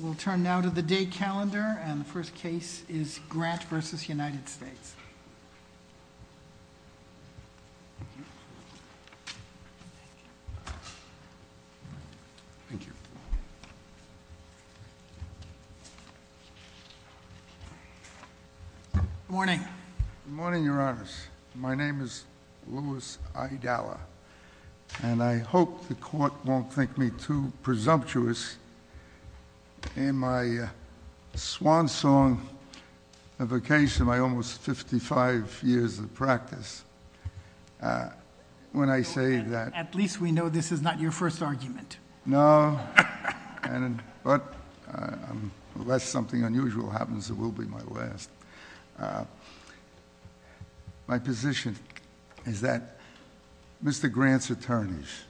We'll turn now to the day calendar, and the first case is Grant v. United States. Thank you. Good morning. Good morning, your honors. My name is Louis Idalla, and I hope the court won't think me too presumptuous in my swan song of occasion, my almost 55 years of practice, when I say that... At least we know this is not your first argument. No, but unless something unusual happens, it will be my last. My position is that Mr. Grant's attorneys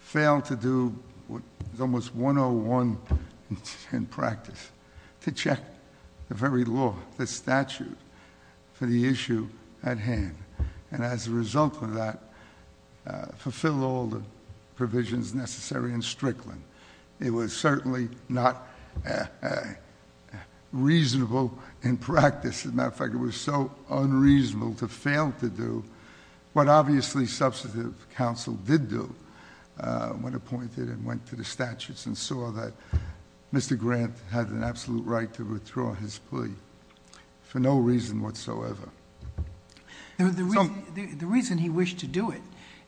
failed to do what is almost 101 in practice, to check the very law, the statute, for the issue at hand, and as a result of that, fulfill all the provisions necessary in Strickland. It was certainly not reasonable in practice. As a matter of fact, it was so unreasonable to fail to do what obviously substantive counsel did do, when appointed and went to the statutes and saw that Mr. Grant had an absolute right to withdraw his plea for no reason whatsoever. The reason he wished to do it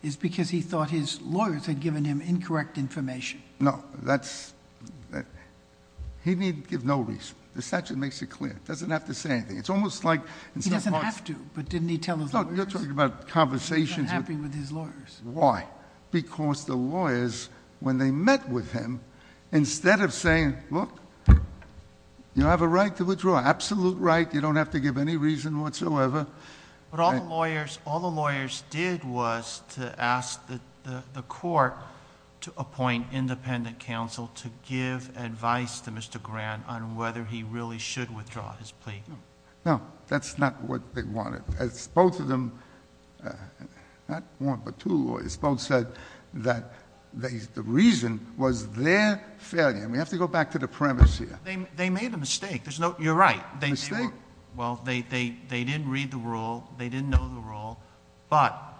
is because he thought his lawyers had given him incorrect information. No, that's... He didn't give no reason. The statute makes it clear. It doesn't have to say anything. It's almost like... He doesn't have to, but didn't he tell his lawyers? No, you're talking about conversations... He's not happy with his lawyers. Why? Because the lawyers, when they met with him, instead of saying, look, you have a right to withdraw, absolute right, you don't have to give any reason whatsoever... But all the lawyers did was to ask the court to appoint independent counsel to give advice to Mr. Grant on whether he really should withdraw his plea. No, that's not what they wanted. As both of them, not one but two lawyers, both said that the reason was their failure. We have to go back to the premise here. They made a mistake. You're right. Mistake? Well, they didn't read the rule. They didn't know the rule, but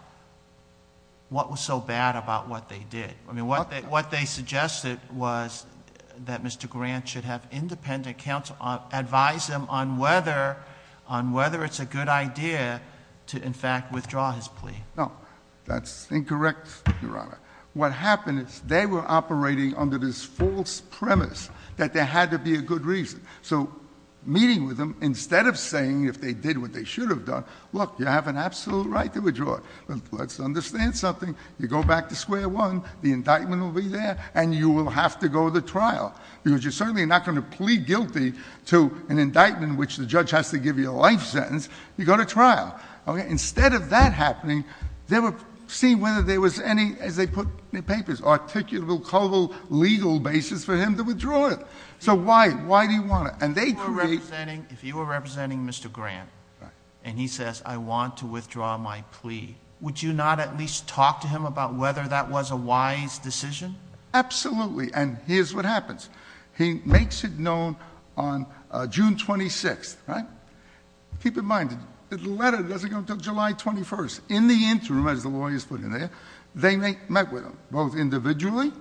what was so bad about what they did? What they suggested was that Mr. Grant should have independent counsel advise him on whether it's a good idea to, in fact, withdraw his plea. No, that's incorrect, Your Honor. What happened is they were operating under this false premise that there had to be a good reason. So meeting with them, instead of saying, if they did what they should have done, look, you have an absolute right to withdraw. Let's understand something. You go back to square one, the indictment will be there, and you will have to go to trial because you're certainly not going to plead guilty to an indictment in which the judge has to give you a life sentence. You go to trial. Instead of that happening, they were seeing whether there was any, as they put in the papers, articulable, coval, legal basis for him to withdraw it. So why? Why do you want it? Would you not at least talk to him about whether that was a wise decision? Absolutely, and here's what happens. He makes it known on June 26th, right? Keep in mind, the letter doesn't go until July 21st. In the interim, as the lawyers put in there, they met with him, both individually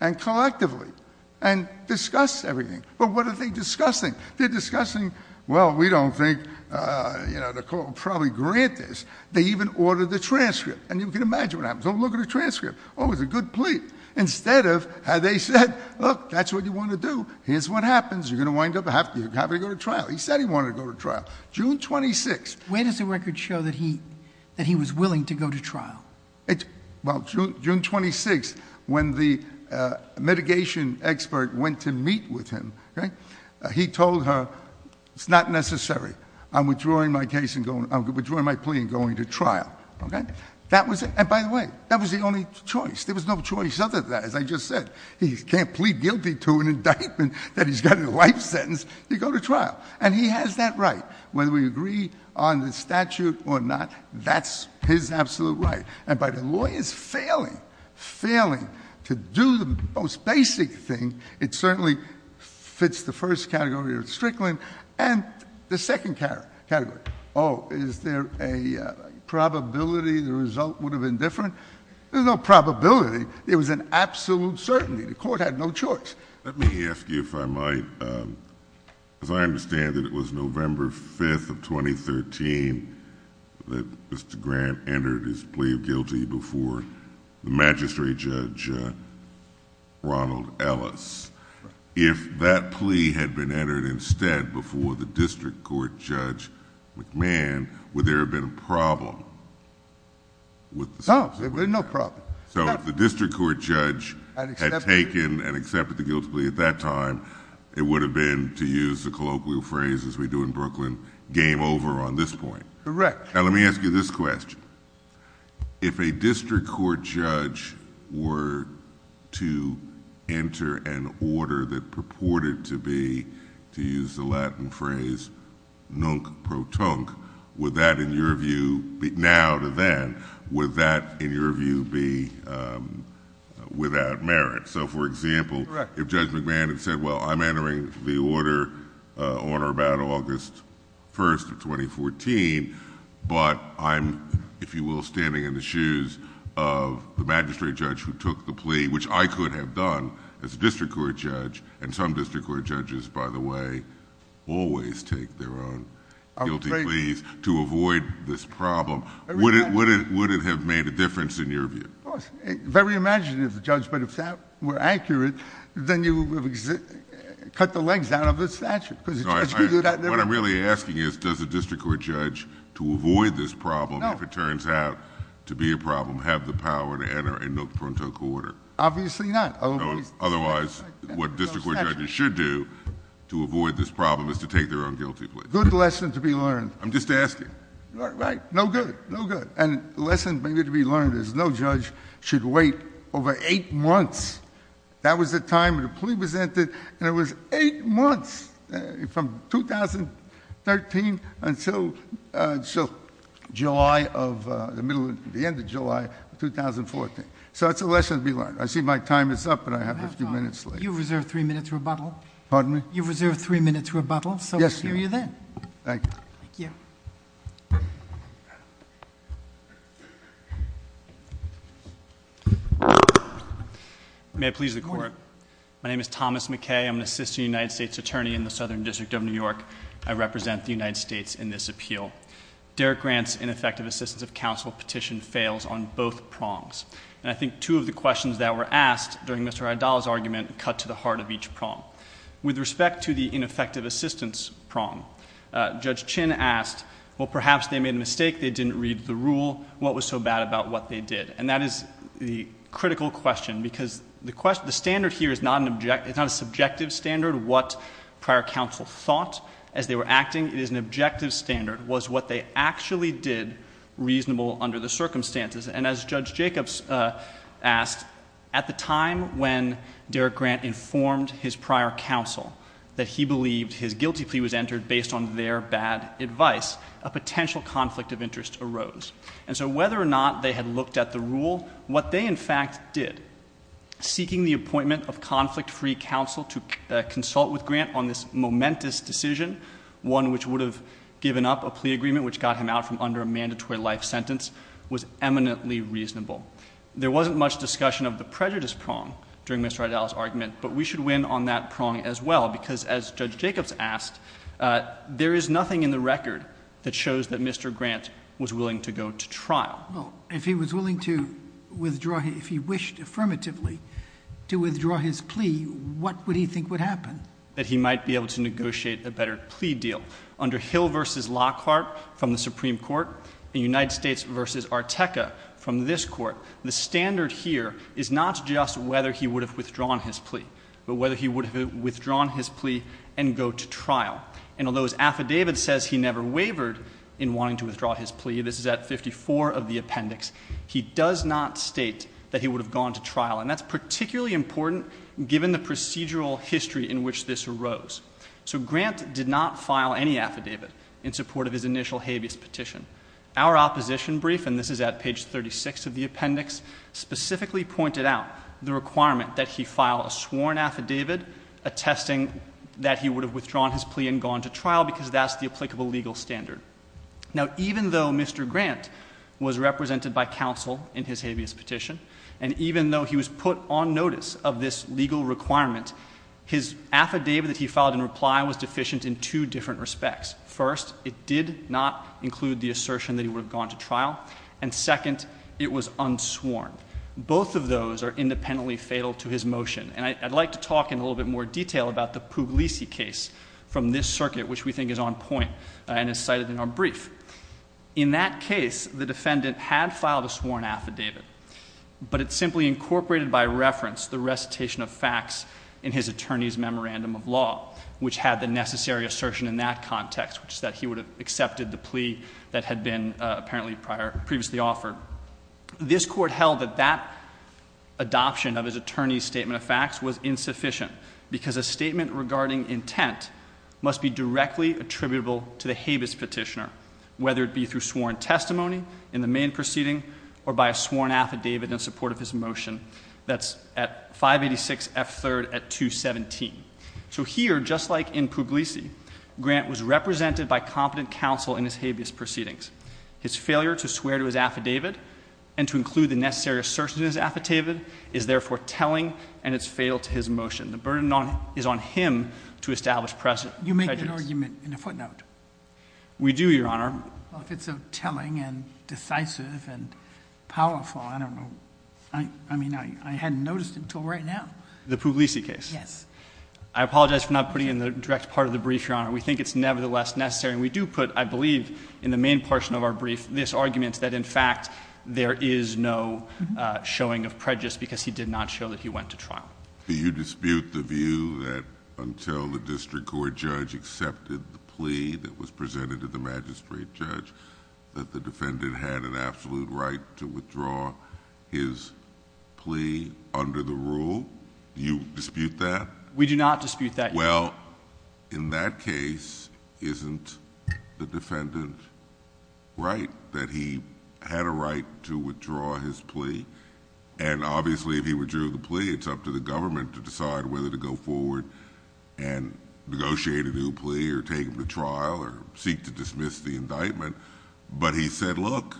and collectively, and discussed everything. But what are they discussing? They're discussing, well, we don't think, you know, the court will probably grant this. They even ordered the transcript, and you can imagine what happens. Oh, look at the transcript. Oh, it's a good plea. Instead of how they said, look, that's what you want to do, here's what happens. You're going to wind up having to go to trial. He said he wanted to go to trial. June 26th. When does the record show that he was willing to go to trial? Well, June 26th, when the mitigation expert went to meet with him, he told her, it's not necessary. I'm withdrawing my plea and going to trial. Okay? And by the way, that was the only choice. There was no choice other than that, as I just said. He can't plead guilty to an indictment that he's got in a life sentence. You go to trial. And he has that right. Whether we agree on the statute or not, that's his absolute right. And by the lawyers failing, failing to do the most basic thing, it certainly fits the first category of Strickland. And the second category, oh, is there a probability the result would have been different? There's no probability. It was an absolute certainty. The court had no choice. Let me ask you, if I might, because I understand that it was November 5th of 2013 that Mr. Grant entered his plea of guilty before the magistrate judge, Ronald Ellis. If that plea had been entered instead before the district court judge, McMahon, would there have been a problem? No, there would have been no problem. So if the district court judge had taken and accepted the guilty plea at that time, it would have been, to use the colloquial phrase as we do in Brooklyn, game over on this point. Correct. Now, let me ask you this question. If a district court judge were to enter an order that purported to be, to use the Latin phrase, nunc pro tunc, would that, in your view, now to then, would that, in your view, be without merit? So, for example, if Judge McMahon had said, well, I'm entering the order on or about August 1st of 2014, but I'm, if you will, standing in the shoes of the magistrate judge who took the plea, which I could have done as a district court judge, and some district court judges, by the way, always take their own guilty pleas to avoid this problem, would it have made a difference in your view? Very imaginative, Judge, but if that were accurate, then you would have cut the legs out of the statute. What I'm really asking is, does a district court judge, to avoid this problem, if it turns out to be a problem, have the power to enter a nunc pro tunc order? Obviously not. Otherwise, what district court judges should do to avoid this problem is to take their own guilty plea. Good lesson to be learned. I'm just asking. Right. No good. No good. And the lesson to be learned is no judge should wait over eight months. That was the time the plea was entered, and it was eight months from 2013 until July of, the middle of, the end of July of 2014. So it's a lesson to be learned. I see my time is up, but I have a few minutes left. You have time. You reserve three minutes rebuttal. Pardon me? You reserve three minutes rebuttal, so we'll hear you then. Thank you. Thank you. May I please have the floor? My name is Thomas McKay. I'm an assistant United States attorney in the Southern District of New York. I represent the United States in this appeal. Derek Grant's ineffective assistance of counsel petition fails on both prongs, and I think two of the questions that were asked during Mr. Adal's argument cut to the heart of each prong. With respect to the ineffective assistance prong, Judge Chin asked, well, perhaps they made a mistake. They didn't read the rule. What was so bad about what they did? And that is the critical question, because the standard here is not a subjective standard, what prior counsel thought as they were acting. It is an objective standard, was what they actually did reasonable under the circumstances. And as Judge Jacobs asked, at the time when Derek Grant informed his prior counsel that he believed his guilty plea was entered based on their bad advice, a potential conflict of interest arose. And so whether or not they had looked at the rule, what they in fact did, seeking the appointment of conflict-free counsel to consult with Grant on this momentous decision, one which would have given up a plea agreement which got him out from under a mandatory life sentence, was eminently reasonable. There wasn't much discussion of the prejudice prong during Mr. Adal's argument, but we should win on that prong as well, because as Judge Jacobs asked, there is nothing in the record that shows that Mr. Grant was willing to go to trial. If he was willing to withdraw, if he wished affirmatively to withdraw his plea, what would he think would happen? That he might be able to negotiate a better plea deal. Under Hill v. Lockhart from the Supreme Court and United States v. Arteca from this court, the standard here is not just whether he would have withdrawn his plea, but whether he would have withdrawn his plea and go to trial. And although his affidavit says he never wavered in wanting to withdraw his plea, this is at 54 of the appendix, he does not state that he would have gone to trial. And that's particularly important given the procedural history in which this arose. So Grant did not file any affidavit in support of his initial habeas petition. Our opposition brief, and this is at page 36 of the appendix, specifically pointed out the requirement that he file a sworn affidavit attesting that he would have withdrawn his plea and gone to trial, because that's the applicable legal standard. Now, even though Mr. Grant was represented by counsel in his habeas petition, and even though he was put on notice of this legal requirement, his affidavit that he filed in reply was deficient in two different respects. First, it did not include the assertion that he would have gone to trial. And second, it was unsworn. Both of those are independently fatal to his motion. And I'd like to talk in a little bit more detail about the Puglisi case from this circuit, which we think is on point and is cited in our brief. In that case, the defendant had filed a sworn affidavit, but it simply incorporated by reference the recitation of facts in his attorney's memorandum of law, which had the necessary assertion in that context, which is that he would have accepted the plea that had been apparently previously offered. This Court held that that adoption of his attorney's statement of facts was insufficient, because a statement regarding intent must be directly attributable to the habeas petitioner, whether it be through sworn testimony in the main proceeding or by a sworn affidavit in support of his motion. That's at 586 F. 3rd at 217. So here, just like in Puglisi, Grant was represented by competent counsel in his habeas proceedings. His failure to swear to his affidavit and to include the necessary assertion in his affidavit is therefore telling, and it's fatal to his motion. The burden is on him to establish prejudice. You make that argument in a footnote. We do, Your Honor. Well, if it's so telling and decisive and powerful, I don't know. I mean, I hadn't noticed until right now. The Puglisi case. Yes. I apologize for not putting it in the direct part of the brief, Your Honor. We think it's nevertheless necessary. We do put, I believe, in the main portion of our brief, this argument that, in fact, there is no showing of prejudice because he did not show that he went to trial. Do you dispute the view that until the district court judge accepted the plea that was presented to the magistrate judge that the defendant had an absolute right to withdraw his plea under the rule? Do you dispute that? We do not dispute that. Well, in that case, isn't the defendant right that he had a right to withdraw his plea? And obviously, if he withdrew the plea, it's up to the government to decide whether to go forward and negotiate a new plea or take him to trial or seek to dismiss the indictment. But he said, look,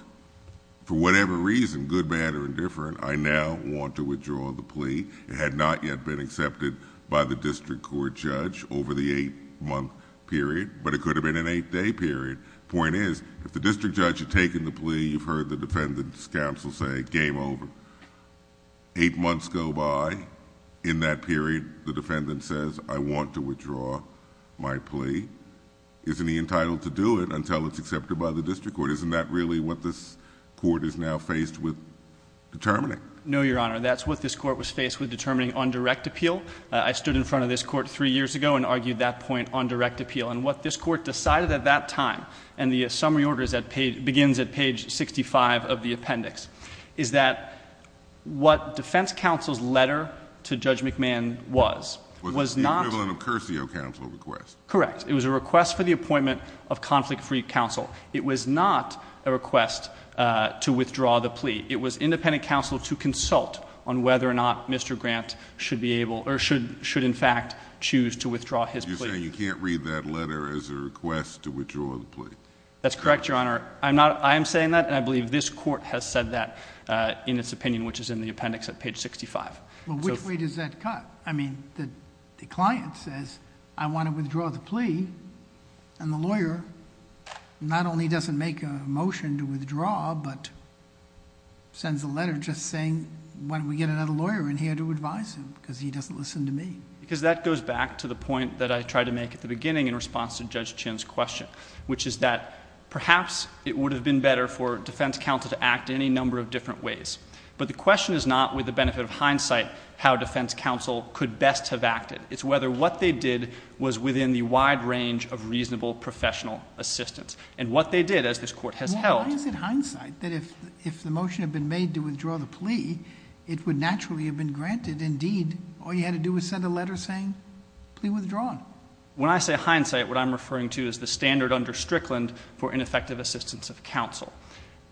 for whatever reason, good, bad, or indifferent, I now want to withdraw the plea. It had not yet been accepted by the district court judge over the eight-month period, but it could have been an eight-day period. Point is, if the district judge had taken the plea, you've heard the defendant's counsel say, game over. Eight months go by. In that period, the defendant says, I want to withdraw my plea. Isn't he entitled to do it until it's accepted by the district court? Isn't that really what this court is now faced with determining? No, Your Honor. That's what this court was faced with determining on direct appeal. I stood in front of this court three years ago and argued that point on direct appeal. And what this court decided at that time, and the summary order begins at page 65 of the appendix, is that what defense counsel's letter to Judge McMahon was, was not the equivalent of Curcio counsel request. Correct. It was a request for the appointment of conflict-free counsel. It was not a request to withdraw the plea. It was independent counsel to consult on whether or not Mr. Grant should be able or should in fact choose to withdraw his plea. You're saying you can't read that letter as a request to withdraw the plea. That's correct, Your Honor. I am saying that, and I believe this court has said that in its opinion, which is in the appendix at page 65. Well, which way does that cut? I mean, the client says, I want to withdraw the plea, and the lawyer not only doesn't make a motion to withdraw, but sends a letter just saying, why don't we get another lawyer in here to advise him, because he doesn't listen to me. Because that goes back to the point that I tried to make at the beginning in response to Judge Chin's question, which is that perhaps it would have been better for defense counsel to act any number of different ways. But the question is not, with the benefit of hindsight, how defense counsel could best have acted. It's whether what they did was within the wide range of reasonable professional assistance. And what they did, as this court has held— Well, why is it hindsight that if the motion had been made to withdraw the plea, it would naturally have been granted? Indeed, all you had to do was send a letter saying, plea withdrawn. When I say hindsight, what I'm referring to is the standard under Strickland for ineffective assistance of counsel.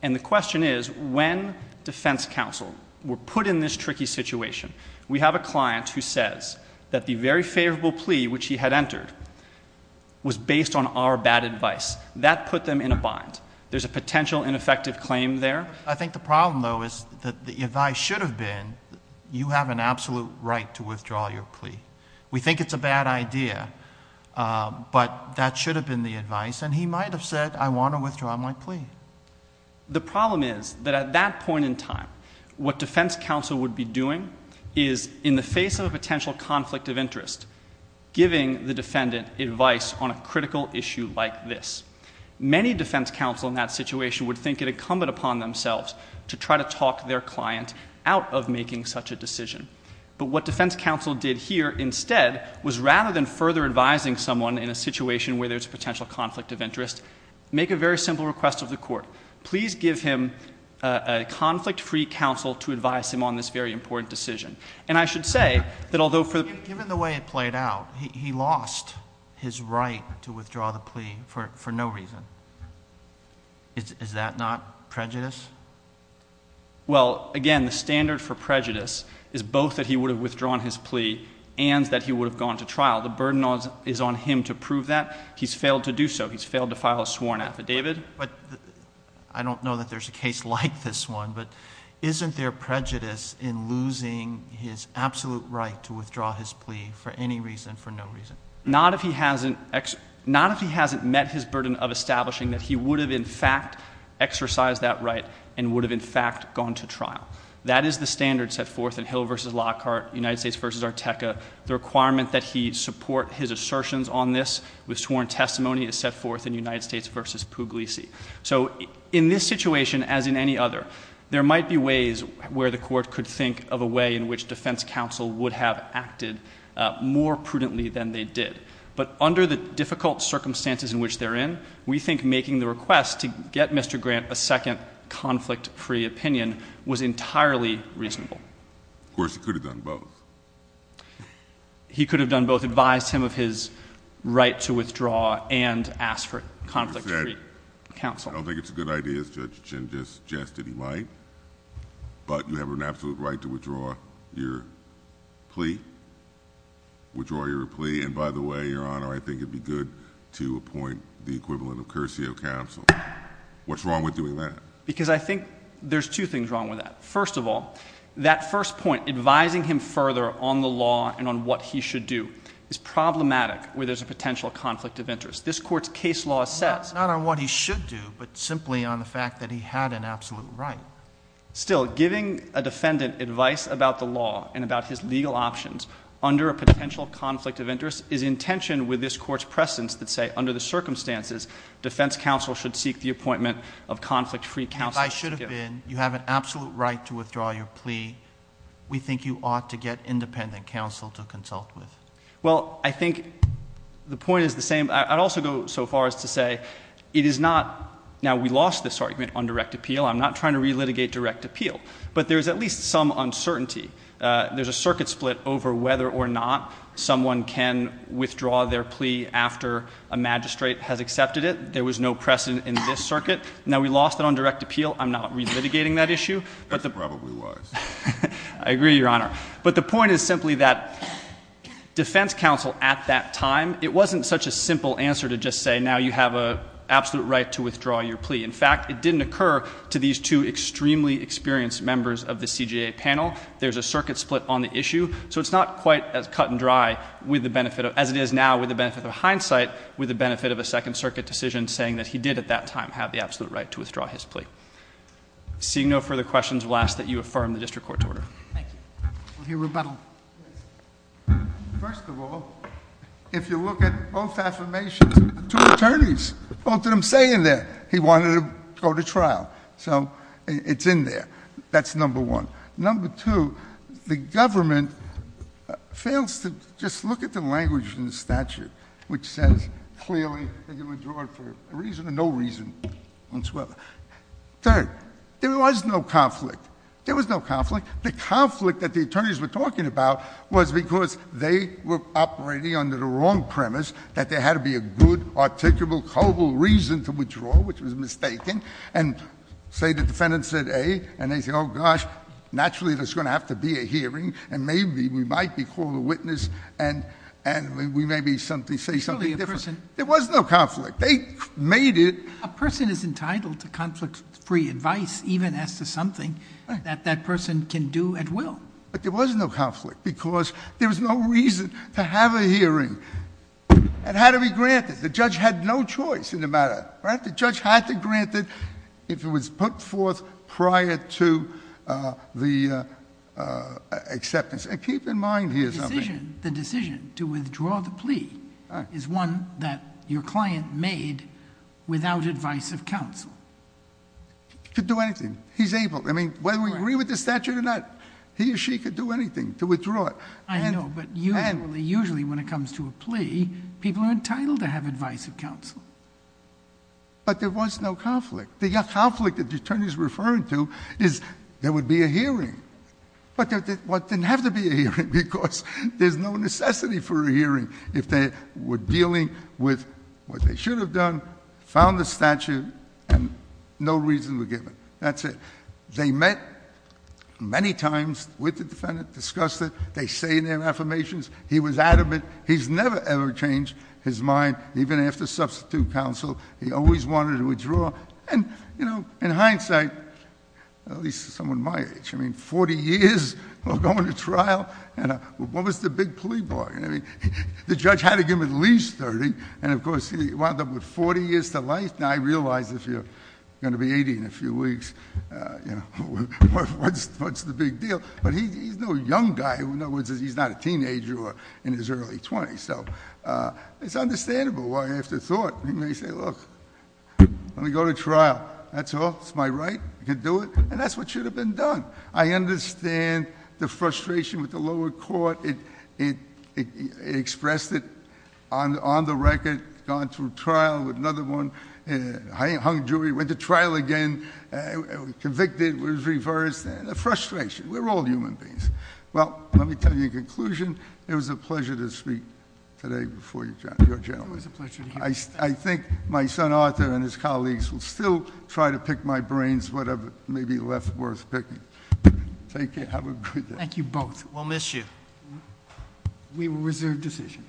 And the question is, when defense counsel were put in this tricky situation, we have a client who says that the very favorable plea which he had entered was based on our bad advice. That put them in a bind. There's a potential ineffective claim there. I think the problem, though, is that the advice should have been, you have an absolute right to withdraw your plea. We think it's a bad idea, but that should have been the advice. And he might have said, I want to withdraw my plea. The problem is that at that point in time, what defense counsel would be doing is, in the face of a potential conflict of interest, giving the defendant advice on a critical issue like this. Many defense counsel in that situation would think it incumbent upon themselves to try to talk their client out of making such a decision. But what defense counsel did here instead was, rather than further advising someone in a situation where there's a potential conflict of interest, make a very simple request of the court. Please give him a conflict-free counsel to advise him on this very important decision. And I should say that although for the… Given the way it played out, he lost his right to withdraw the plea for no reason. Is that not prejudice? Well, again, the standard for prejudice is both that he would have withdrawn his plea and that he would have gone to trial. The burden is on him to prove that. He's failed to do so. He's failed to file a sworn affidavit. But I don't know that there's a case like this one, but isn't there prejudice in losing his absolute right to withdraw his plea for any reason, for no reason? Not if he hasn't met his burden of establishing that he would have, in fact, exercised that right and would have, in fact, gone to trial. That is the standard set forth in Hill v. Lockhart, United States v. Arteca. The requirement that he support his assertions on this with sworn testimony is set forth in United States v. Puglisi. So in this situation, as in any other, there might be ways where the court could think of a way in which defense counsel would have acted more prudently than they did. But under the difficult circumstances in which they're in, we think making the request to get Mr. Grant a second conflict-free opinion was entirely reasonable. Of course, he could have done both. He could have done both, advised him of his right to withdraw and asked for conflict-free. I don't think it's a good idea, as Judge Chin just suggested he might. But you have an absolute right to withdraw your plea. Withdraw your plea. And by the way, Your Honor, I think it would be good to appoint the equivalent of curtsy of counsel. What's wrong with doing that? Because I think there's two things wrong with that. First of all, that first point, advising him further on the law and on what he should do, is problematic where there's a potential conflict of interest. This Court's case law says. Not on what he should do, but simply on the fact that he had an absolute right. Still, giving a defendant advice about the law and about his legal options under a potential conflict of interest is in tension with this Court's presence that say under the circumstances, defense counsel should seek the appointment of conflict-free counsel. If I should have been, you have an absolute right to withdraw your plea. We think you ought to get independent counsel to consult with. Well, I think the point is the same. I'd also go so far as to say it is not. Now, we lost this argument on direct appeal. I'm not trying to relitigate direct appeal. But there's at least some uncertainty. There's a circuit split over whether or not someone can withdraw their plea after a magistrate has accepted it. There was no precedent in this circuit. Now, we lost it on direct appeal. I'm not relitigating that issue. That probably was. I agree, Your Honor. But the point is simply that defense counsel at that time, it wasn't such a simple answer to just say now you have an absolute right to withdraw your plea. In fact, it didn't occur to these two extremely experienced members of the CJA panel. There's a circuit split on the issue. So it's not quite as cut and dry as it is now with the benefit of hindsight, with the benefit of a Second Circuit decision saying that he did at that time have the absolute right to withdraw his plea. Seeing no further questions, we'll ask that you affirm the district court's order. Thank you. We'll hear rebuttal. First of all, if you look at both affirmations, the two attorneys, both of them say in there he wanted to go to trial. So it's in there. That's number one. Number two, the government fails to just look at the language in the statute which says clearly that you withdraw it for a reason or no reason whatsoever. Third, there was no conflict. There was no conflict. The conflict that the attorneys were talking about was because they were operating under the wrong premise that there had to be a good, articulable, culpable reason to withdraw, which was mistaken. And say the defendant said A, and they say, oh, gosh, naturally there's going to have to be a hearing, and maybe we might be called a witness, and we maybe say something different. There was no conflict. They made it. A person is entitled to conflict-free advice even as to something that that person can do at will. But there was no conflict because there was no reason to have a hearing. It had to be granted. The judge had no choice in the matter. The judge had to grant it if it was put forth prior to the acceptance. And keep in mind here something. The decision to withdraw the plea is one that your client made without advice of counsel. He could do anything. He's able. I mean, whether we agree with the statute or not, he or she could do anything to withdraw it. I know, but usually when it comes to a plea, people are entitled to have advice of counsel. But there was no conflict. The conflict that the attorney is referring to is there would be a hearing. But there didn't have to be a hearing because there's no necessity for a hearing if they were dealing with what they should have done, found the statute, and no reason were given. That's it. They met many times with the defendant, discussed it. They say their affirmations. He was adamant. He's never, ever changed his mind, even after substitute counsel. He always wanted to withdraw. And, you know, in hindsight, at least someone my age, I mean, 40 years of going to trial, what was the big plea bargain? I mean, the judge had to give him at least 30, and, of course, he wound up with 40 years to life. Now, I realize if you're going to be 80 in a few weeks, you know, what's the big deal? But he's no young guy. In other words, he's not a teenager in his early 20s. So it's understandable why, after thought, he may say, look, let me go to trial. That's all. It's my right. I can do it. And that's what should have been done. I understand the frustration with the lower court. It expressed it on the record, gone through trial with another one, hung jury, went to trial again, convicted, was reversed. The frustration. We're all human beings. Well, let me tell you in conclusion, it was a pleasure to speak today before you gentlemen. It was a pleasure to hear you. I think my son Arthur and his colleagues will still try to pick my brains, whatever may be left worth picking. Take care. Have a good day. Thank you both. We'll miss you. We will reserve decision.